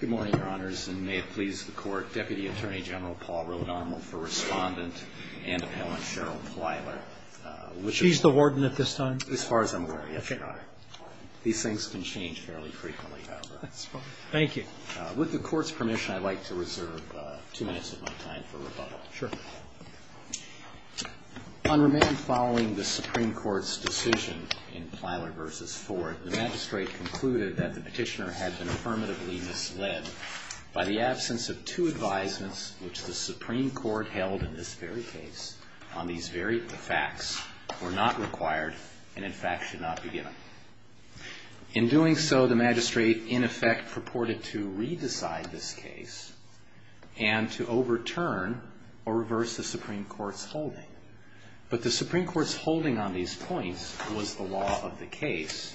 Good morning, Your Honors, and may it please the Court, Deputy Attorney General Paul Rode Honorable for Respondent and Appellant Cheryl Plyler. She's the warden at this time? As far as I'm aware, yes, Your Honor. These things can change fairly frequently, however. That's fine. Thank you. With the Court's permission, I'd like to reserve two minutes of my time for rebuttal. Sure. On remand following the Supreme Court's decision in Plyler v. Ford, the magistrate concluded that the petitioner had been affirmatively misled by the absence of two advisements which the Supreme Court held in this very case on these very facts were not required and, in fact, should not be given. In doing so, the magistrate, in effect, purported to re-decide this case and to overturn or reverse the Supreme Court's holding. But the Supreme Court's holding on these points was the law of the case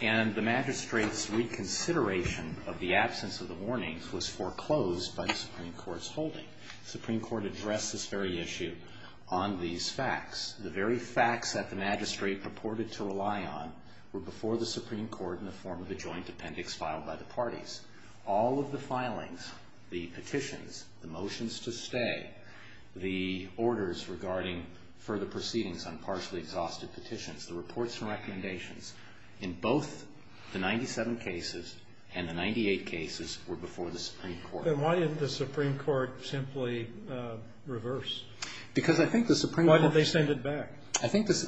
and the magistrate's reconsideration of the absence of the warnings was foreclosed by the Supreme Court's holding. The Supreme Court addressed this very issue on these facts. The very facts that the magistrate purported to rely on were before the Supreme Court in the form of a joint appendix filed by the parties. All of the filings, the petitions, the motions to stay, the orders regarding further proceedings on partially exhausted petitions, the reports and recommendations in both the 97 cases and the 98 cases were before the Supreme Court. Then why didn't the Supreme Court simply reverse? Because I think the Supreme Court Why didn't they send it back?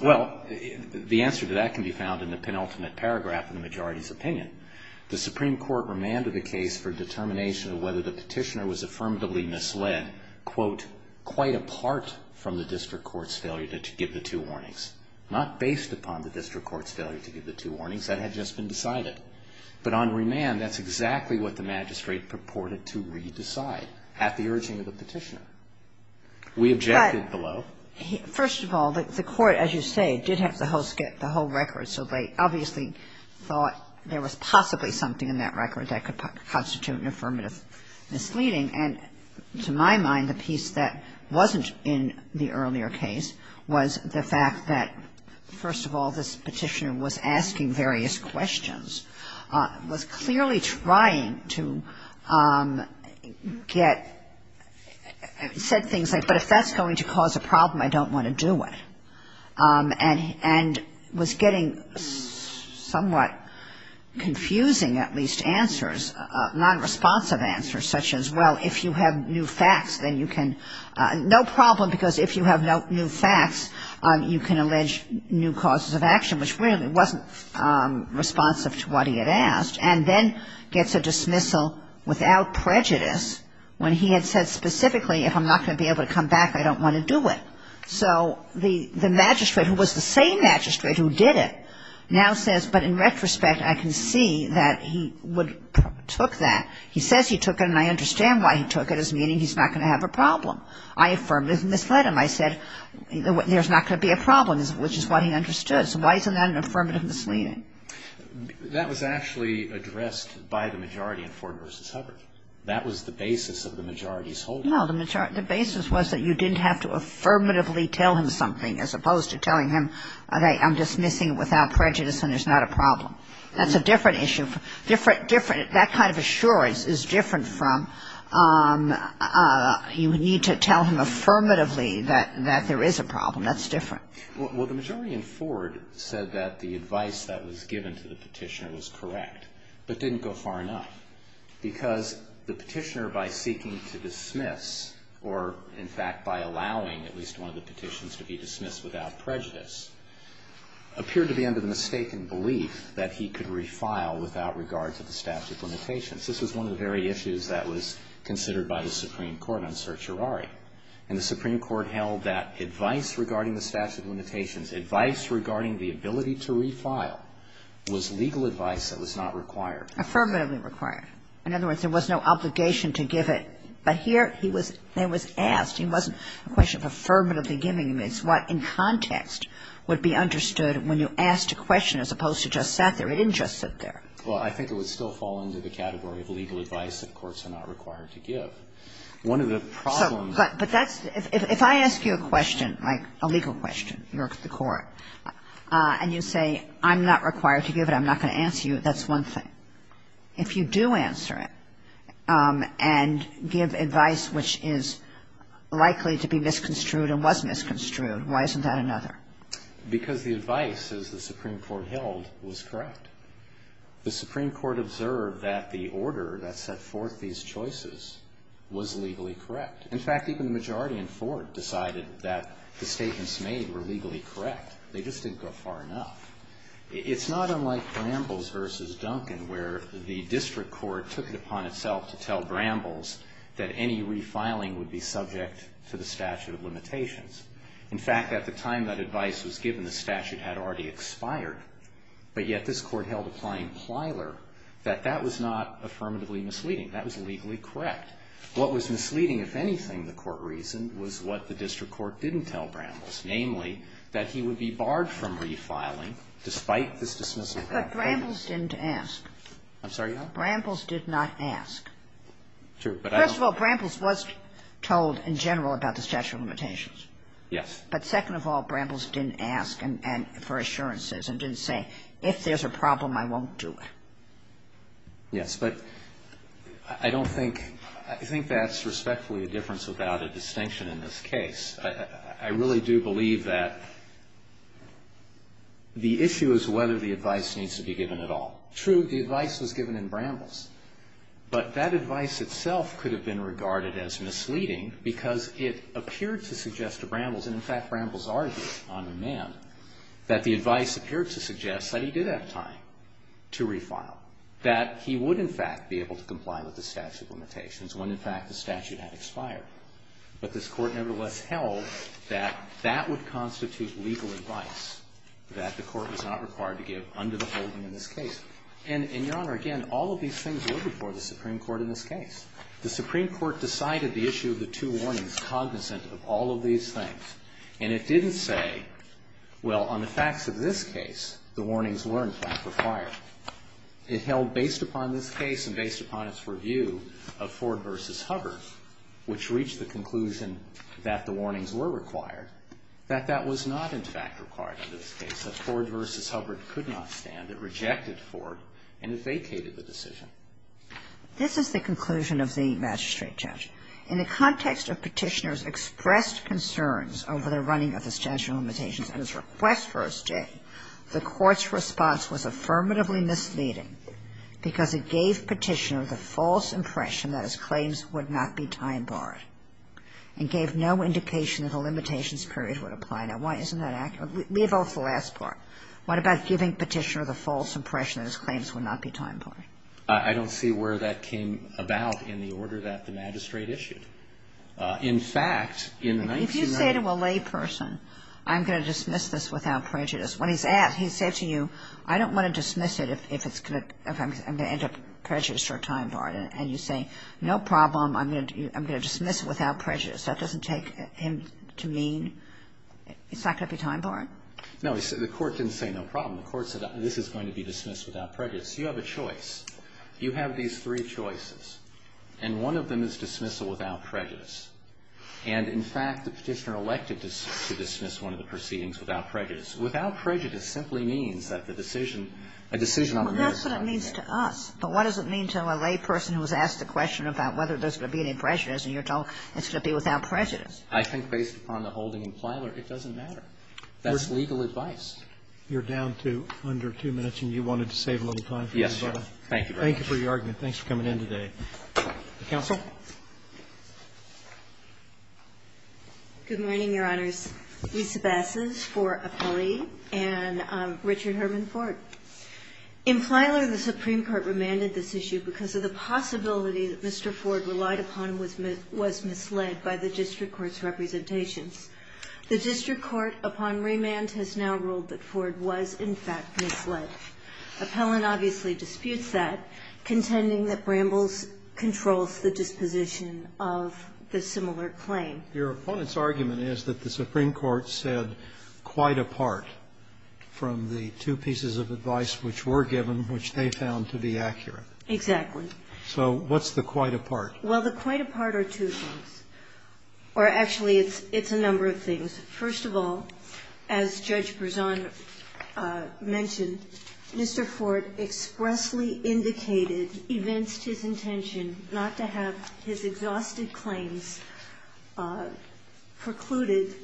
Well, the answer to that can be found in the penultimate paragraph in the majority's opinion. The Supreme Court remanded the case for determination of whether the petitioner was affirmatively misled, quote, quite apart from the district court's failure to give the two warnings, not based upon the district court's failure to give the two warnings. That had just been decided. But on remand, that's exactly what the magistrate purported to re-decide at the urging of the petitioner. We objected below. First of all, the court, as you say, did have the whole record, so they obviously thought there was possibly something in that record that could constitute an affirmative misleading. And to my mind, the piece that wasn't in the earlier case was the fact that, first of all, this petitioner was asking various questions, was clearly trying to get said things like, but if that's going to cause a problem, I don't want to do it, and was getting somewhat confusing, at least, answers, non-responsive answers, such as, well, if you have new facts, then you can no problem, because if you have no new facts, you can allege new causes of action, which really wasn't responsive to what he had asked, and then gets a dismissal without prejudice when he had said specifically, if I'm not going to be able to come back, I don't want to do it. So the magistrate, who was the same magistrate who did it, now says, but in retrospect, I can see that he took that. He says he took it, and I understand why he took it, as meaning he's not going to have a problem. I affirm that he misled him. I said, there's not going to be a problem, which is what he understood. So why isn't that an affirmative misleading? That was actually addressed by the majority in Ford v. Hubbard. That was the basis of the majority's holding. No, the basis was that you didn't have to affirmatively tell him something, as opposed to telling him, okay, I'm dismissing it without prejudice, and there's not a problem. That's a different issue. That kind of assurance is different from you need to tell him affirmatively that there is a problem. That's different. Well, the majority in Ford said that the advice that was given to the petitioner was correct, but didn't go far enough, because the petitioner, by seeking to dismiss or, in fact, by allowing at least one of the petitions to be dismissed without prejudice, appeared to be under the mistaken belief that he could refile without regard to the statute of limitations. This was one of the very issues that was considered by the Supreme Court on certiorari. And the Supreme Court held that advice regarding the statute of limitations, advice regarding the ability to refile, was legal advice that was not required. Affirmatively required. In other words, there was no obligation to give it. But here it was asked. It wasn't a question of affirmatively giving it. It's what, in context, would be understood when you asked a question, as opposed to just sat there. It didn't just sit there. Well, I think it would still fall into the category of legal advice that courts One of the problems of the law is that courts are not required to give. So, but that's the – if I ask you a question, like a legal question, you're at the court, and you say, I'm not required to give it, I'm not going to answer you, that's one thing. If you do answer it, and give advice which is likely to be misconstrued and was misconstrued, why isn't that another? Because the advice, as the Supreme Court held, was correct. The Supreme Court observed that the order that set forth these choices was legally correct. In fact, even the majority in Fort decided that the statements made were legally correct. They just didn't go far enough. It's not unlike Brambles v. Duncan, where the district court took it upon itself to tell Brambles that any refiling would be subject to the statute of limitations. In fact, at the time that advice was given, the statute had already expired. But yet, this court held, applying Plyler, that that was not affirmatively misleading. That was legally correct. What was misleading, if anything, the court reasoned, was what the district court didn't tell Brambles, namely, that he would be barred from refiling despite this dismissal. Kagan. But Brambles didn't ask. I'm sorry, Your Honor? Brambles did not ask. True. First of all, Brambles was told in general about the statute of limitations. Yes. But second of all, Brambles didn't ask for assurances and didn't say, if there's a problem, I won't do it. Yes. But I don't think — I think that's respectfully a difference without a distinction in this case. I really do believe that the issue is whether the advice needs to be given at all. True, the advice was given in Brambles. But that advice itself could have been regarded as misleading because it appeared to suggest to Brambles, and in fact, Brambles argued on remand, that the advice appeared to suggest that he did have time to refile, that he would, in fact, be able to comply with the statute of limitations when, in fact, the statute had expired. But this Court, nevertheless, held that that would constitute legal advice that the Court was not required to give under the holding in this case. And, Your Honor, again, all of these things were before the Supreme Court in this case. The Supreme Court decided the issue of the two warnings cognizant of all of these things. And it didn't say, well, on the facts of this case, the warnings weren't, in fact, required. It held, based upon this case and based upon its review of Ford v. Hubbard, which reached the conclusion that the warnings were required, that that was not, in fact, required under this case, that Ford v. Hubbard could not stand. It rejected Ford, and it vacated the decision. This is the conclusion of the magistrate judge. In the context of Petitioner's expressed concerns over the running of the statute of limitations and his request for a stay, the Court's response was affirmatively misleading because it gave Petitioner the false impression that his claims would not be time-barred, and gave no indication that a limitations period would apply. Now, why isn't that accurate? Leave off the last part. What about giving Petitioner the false impression that his claims would not be time-barred? I don't see where that came about in the order that the magistrate issued. In fact, in the 1990s ---- If you say to a layperson, I'm going to dismiss this without prejudice, when he's asked, he's said to you, I don't want to dismiss it if it's going to, if I'm going to end up prejudiced or time-barred. And you say, no problem, I'm going to dismiss it without prejudice. That doesn't take him to mean it's not going to be time-barred? No. The Court didn't say no problem. The Court said this is going to be dismissed without prejudice. You have a choice. You have these three choices. And one of them is dismissal without prejudice. And, in fact, the Petitioner elected to dismiss one of the proceedings without prejudice. Without prejudice simply means that the decision, a decision on the merits of the case I think, based upon the holding in Plyler, it doesn't matter. That's legal advice. You're down to under two minutes, and you wanted to save a little time for this? Yes, Your Honor. Thank you very much. Thank you for your argument. Thanks for coming in today. Counsel? Good morning, Your Honors. Lisa Bassas for Apolli and Richard Herman Ford. In Plyler, the Supreme Court, the Supreme Court, the Supreme Court, the Supreme Court remanded this issue because of the possibility that Mr. Ford relied upon and was misled by the district court's representations. The district court, upon remand, has now ruled that Ford was, in fact, misled. Appellant obviously disputes that, contending that Brambles controls the disposition of the similar claim. Your opponent's argument is that the Supreme Court said quite apart from the two pieces of advice which were given, which they found to be accurate. Exactly. So what's the quite apart? Well, the quite apart are two things. Or actually, it's a number of things. First of all, as Judge Berzon mentioned, Mr. Ford expressly indicated, evinced his intention not to have his exhausted claims precluded.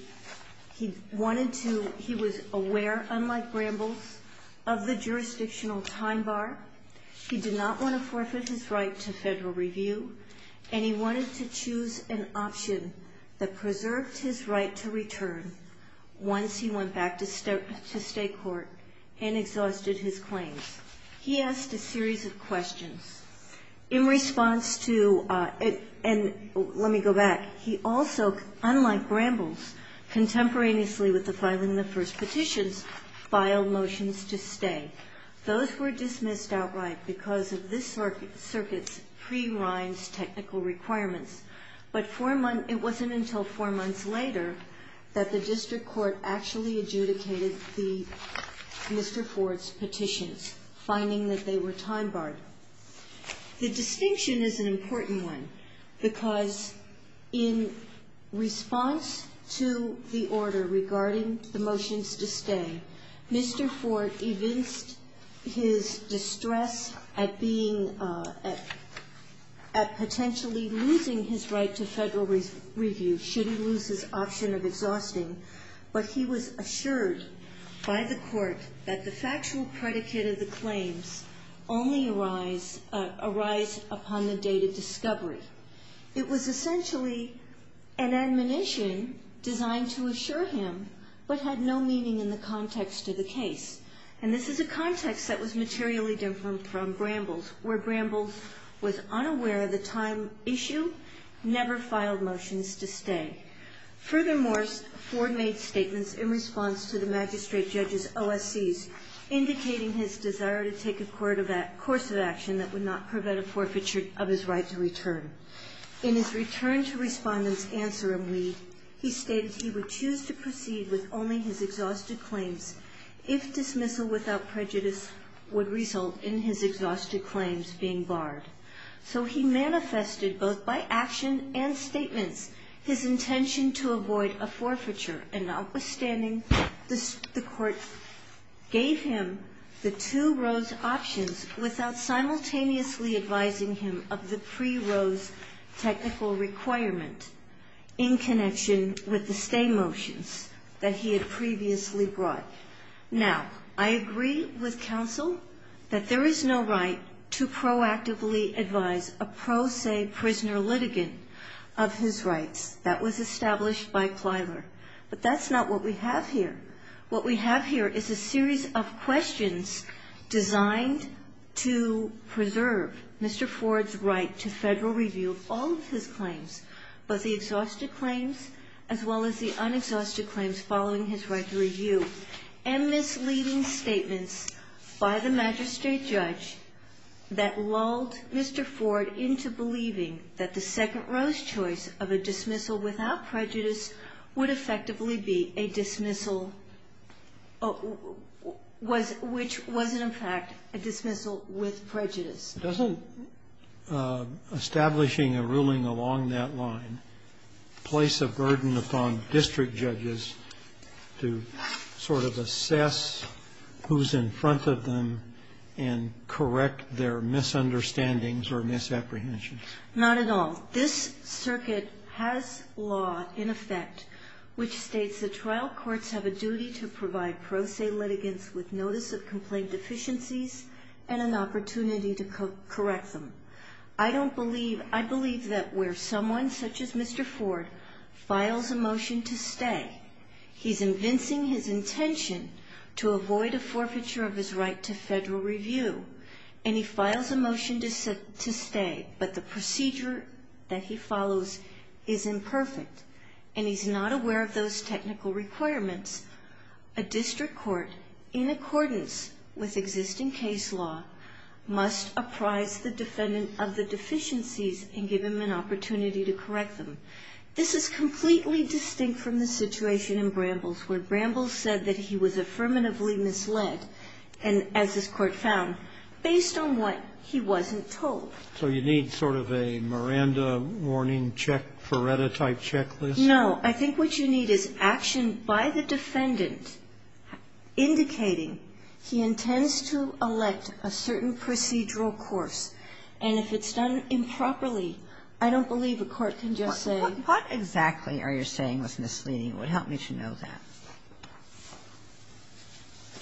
He wanted to, he was aware, unlike Brambles, of the jurisdictional time bar. He did not want to forfeit his right to federal review, and he wanted to choose an option that preserved his right to return once he went back to state court and exhausted his claims. He asked a series of questions. In response to, and let me go back, he also, unlike Brambles, contemporaneously with the filing of the first petitions, filed motions to stay. Those were dismissed outright because of this circuit's pre-Rinds technical requirements. But four months, it wasn't until four months later that the district court actually adjudicated Mr. Ford's petitions, finding that they were time barred. The distinction is an important one because in response to the order regarding the motions to stay, Mr. Ford evinced his distress at being, at potentially losing his right to federal review should he lose his option of exhausting. But he was assured by the court that the factual predicate of the claims only arise upon the date of discovery. It was essentially an admonition designed to assure him, but had no meaning in the context of the case. And this is a context that was materially different from Brambles, where Brambles was unaware of the time issue, never filed motions to stay. Furthermore, Ford made statements in response to the magistrate judge's OSCs, indicating his desire to take a course of action that would not prevent a forfeiture of his right to return. In his return to respondents' answer in Lee, he stated he would choose to proceed with only his exhausted claims if dismissal without prejudice would result in his exhausted claims being barred. So he manifested both by action and statements his intention to avoid a forfeiture. And notwithstanding, the court gave him the two rose options without simultaneously advising him of the pre-rose technical requirement in connection with the stay motions that he had previously brought. Now, I agree with counsel that there is no right to proactively advise a pro se prisoner litigant of his rights. That was established by Clyler. But that's not what we have here. What we have here is a series of questions designed to preserve Mr. Ford's right to Federal review of all of his claims, both the exhausted claims as well as the and misleading statements by the magistrate judge that lulled Mr. Ford into believing that the second rose choice of a dismissal without prejudice would effectively be a dismissal which wasn't, in fact, a dismissal with prejudice. It doesn't, establishing a ruling along that line, place a burden upon district judges to sort of assess who's in front of them and correct their misunderstandings or misapprehensions. Not at all. This circuit has law in effect which states the trial courts have a duty to provide pro se litigants with notice of complaint deficiencies and an opportunity to correct them. I believe that where someone such as Mr. Ford files a motion to stay, he's convincing his intention to avoid a forfeiture of his right to Federal review, and he files a motion to stay, but the procedure that he follows is imperfect, and he's not aware of those technical requirements. A district court, in accordance with existing case law, must apprise the defendant of the deficiencies and give him an opportunity to correct them. This is completely distinct from the situation in Bramble's where Bramble said that he was affirmatively misled, and as this Court found, based on what he wasn't told. So you need sort of a Miranda warning check, Feretta type checklist? No. I think what you need is action by the defendant indicating he intends to elect a certain procedural course, and if it's done improperly, I don't believe a court can just say. What exactly are you saying was misleading? It would help me to know that.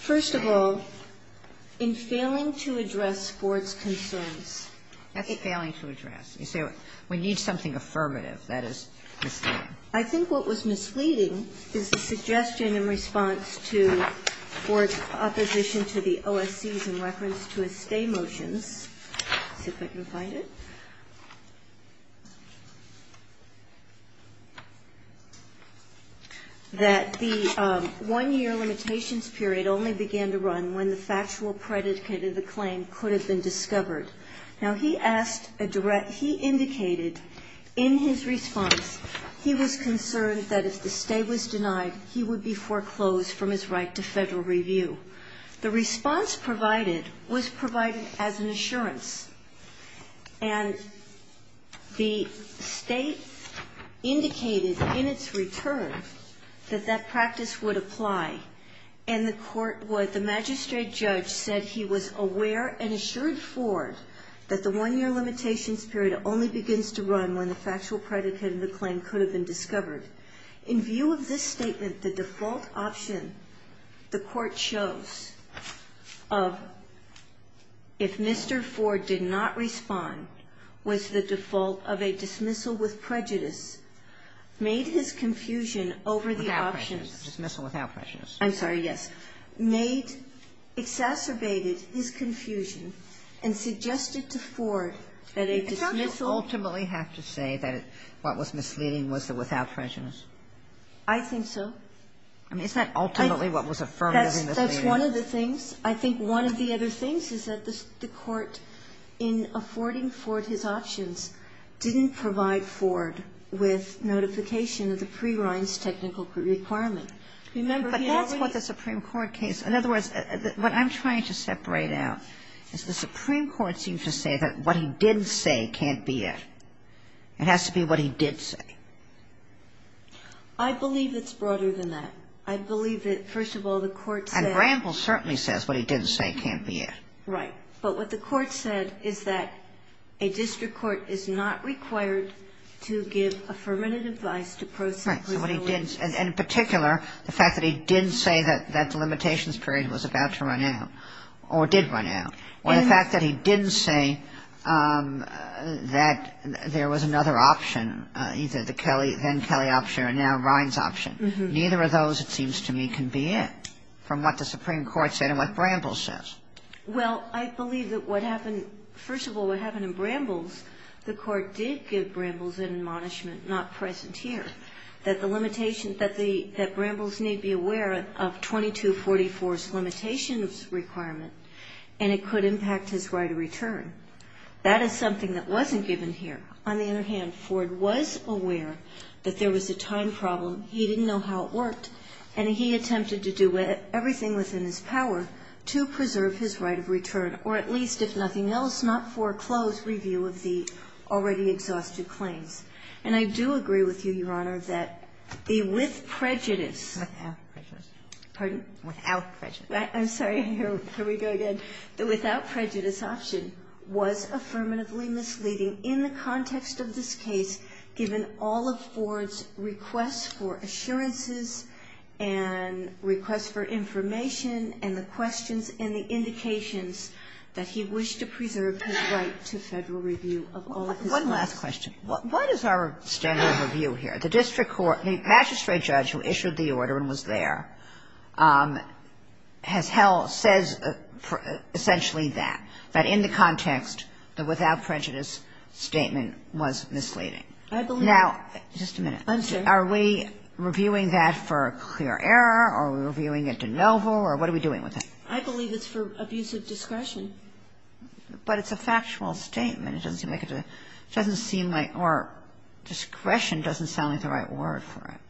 First of all, in failing to address Ford's concerns. That's failing to address. You say we need something affirmative. That is misleading. I think what was misleading is the suggestion in response to Ford's opposition to the OSCs in reference to his stay motions, see if I can find it, that the one-year limitations period only began to run when the factual predicate of the claim could have been discovered. Now, he asked a direct he indicated in his response he was concerned that if the stay was denied, he would be foreclosed from his right to Federal review. The response provided was provided as an assurance, and the State indicated in its return that that practice would apply, and the magistrate judge said he was aware and assured Ford that the one-year limitations period only begins to run when the factual predicate of the claim could have been discovered. In view of this statement, the default option the Court chose of if Mr. Ford did not respond was the default of a dismissal with prejudice, made his confusion over the options. Without prejudice, dismissal without prejudice. I'm sorry, yes. The default option made, exacerbated his confusion and suggested to Ford that a dismissal You don't ultimately have to say that what was misleading was the without prejudice. I think so. I mean, isn't that ultimately what was affirmed as misleading? That's one of the things. I think one of the other things is that the Court, in affording Ford his options, didn't provide Ford with notification of the pre-Rein's technical requirement. But that's what the Supreme Court case, in other words, what I'm trying to separate out is the Supreme Court seems to say that what he did say can't be it. It has to be what he did say. I believe it's broader than that. I believe that, first of all, the Court said. And Bramble certainly says what he didn't say can't be it. Right. But what the Court said is that a district court is not required to give affirmative advice to prosecutors. Right. And in particular, the fact that he didn't say that the limitations period was about to run out, or did run out, or the fact that he didn't say that there was another option, either the Kelly, then Kelly option, or now Rein's option. Neither of those, it seems to me, can be it, from what the Supreme Court said and what Bramble says. Well, I believe that what happened, first of all, what happened in Bramble's, the Court did give Bramble's an admonishment not present here, that the limitations that Bramble's need be aware of 2244's limitations requirement, and it could impact his right of return. That is something that wasn't given here. On the other hand, Ford was aware that there was a time problem. He didn't know how it worked. And he attempted to do everything within his power to preserve his right of return, or at least, if nothing else, not foreclose review of the already exhausted claims. And I do agree with you, Your Honor, that the with prejudice. Without prejudice. Pardon? Without prejudice. I'm sorry. Here we go again. The without prejudice option was affirmatively misleading in the context of this case, given all of Ford's requests for assurances and requests for information and the questions and the indications that he wished to preserve his right to Federal review of all of his claims. One last question. What is our standard of review here? The district court, the magistrate judge who issued the order and was there has held or says essentially that, that in the context, the without prejudice statement was misleading. I believe that. Now, just a minute. Are we reviewing that for a clear error? Are we reviewing it de novo? Or what are we doing with it? I believe it's for abuse of discretion. But it's a factual statement. It doesn't seem like it's a – it doesn't seem like – or discretion doesn't sound like the right word for it.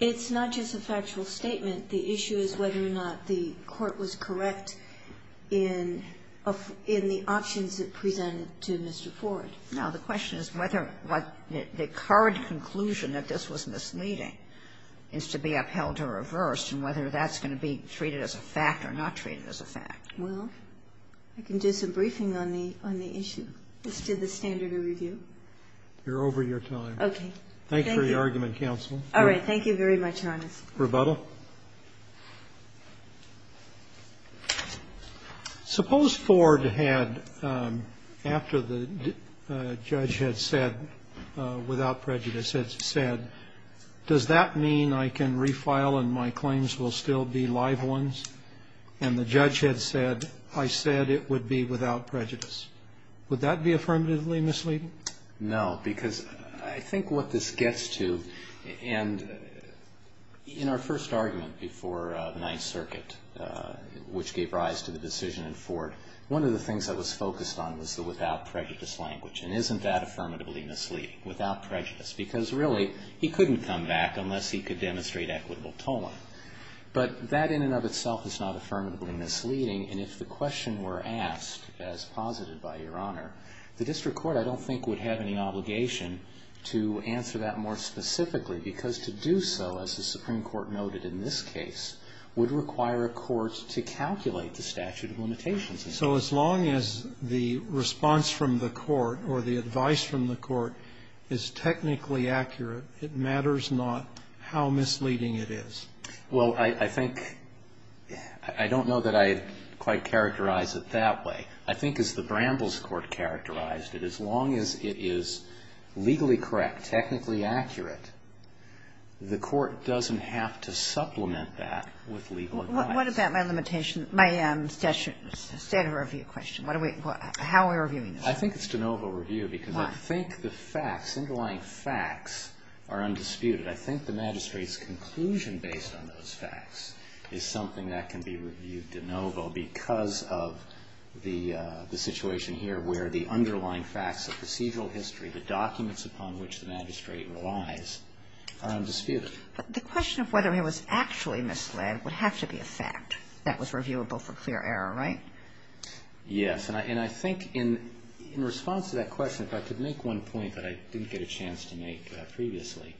It's not just a factual statement. The issue is whether or not the court was correct in the options it presented to Mr. Ford. The question is whether the current conclusion that this was misleading is to be upheld or reversed and whether that's going to be treated as a fact or not treated as a fact. Well, I can do some briefing on the issue. This is the standard of review. You're over your time. Okay. Thank you. Thank you for your argument, counsel. All right. Thank you very much, Your Honor. Rebuttal. Suppose Ford had, after the judge had said, without prejudice had said, does that mean I can refile and my claims will still be live ones? And the judge had said, I said it would be without prejudice. Would that be affirmatively misleading? No, because I think what this gets to – and in our first argument before Ninth Circuit, which gave rise to the decision in Ford, one of the things that was focused on was the without prejudice language. And isn't that affirmatively misleading, without prejudice? Because really, he couldn't come back unless he could demonstrate equitable tolling. But that in and of itself is not affirmatively misleading. And if the question were asked, as posited by Your Honor, the district court I don't think would have any obligation to answer that more specifically because to do so, as the Supreme Court noted in this case, would require a court to calculate the statute of limitations. So as long as the response from the court or the advice from the court is technically accurate, it matters not how misleading it is? Well, I think – I don't know that I quite characterize it that way. I think as the Brambles Court characterized it, as long as it is legally correct, technically accurate, the court doesn't have to supplement that with legal advice. But what about my limitation, my statute of review question? How are we reviewing this? I think it's de novo review because I think the facts, underlying facts are undisputed. I think the magistrate's conclusion based on those facts is something that can be reviewed de novo because of the situation here where the underlying facts of procedural history, the documents upon which the magistrate relies, are undisputed. But the question of whether it was actually misled would have to be a fact that was reviewable for clear error, right? Yes. And I think in response to that question, if I could make one point that I didn't get a chance to make previously.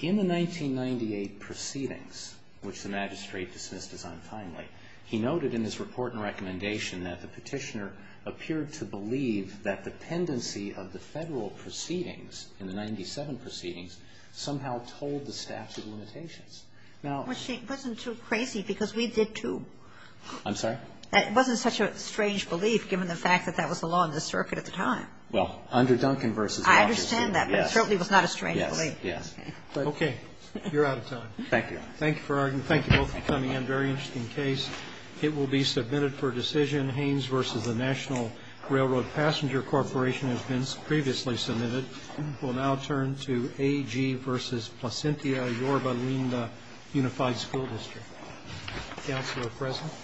In the 1998 proceedings, which the magistrate dismissed as untimely, he noted in his report and recommendation that the Petitioner appeared to believe that the pendency of the Federal proceedings, in the 1997 proceedings, somehow told the statute of limitations. Now ---- It wasn't too crazy because we did too. I'm sorry? It wasn't such a strange belief given the fact that that was the law in the circuit at the time. Well, under Duncan v. I understand that, but it certainly was not a strange belief. Yes, yes. Okay. You're out of time. Thank you. Thank you for arguing. Thank you both for coming in. Very interesting case. It will be submitted for decision. National Railroad Passenger Corporation has been previously submitted. We'll now turn to AG v. Placentia Yorba Linda Unified School District. Counsel are present.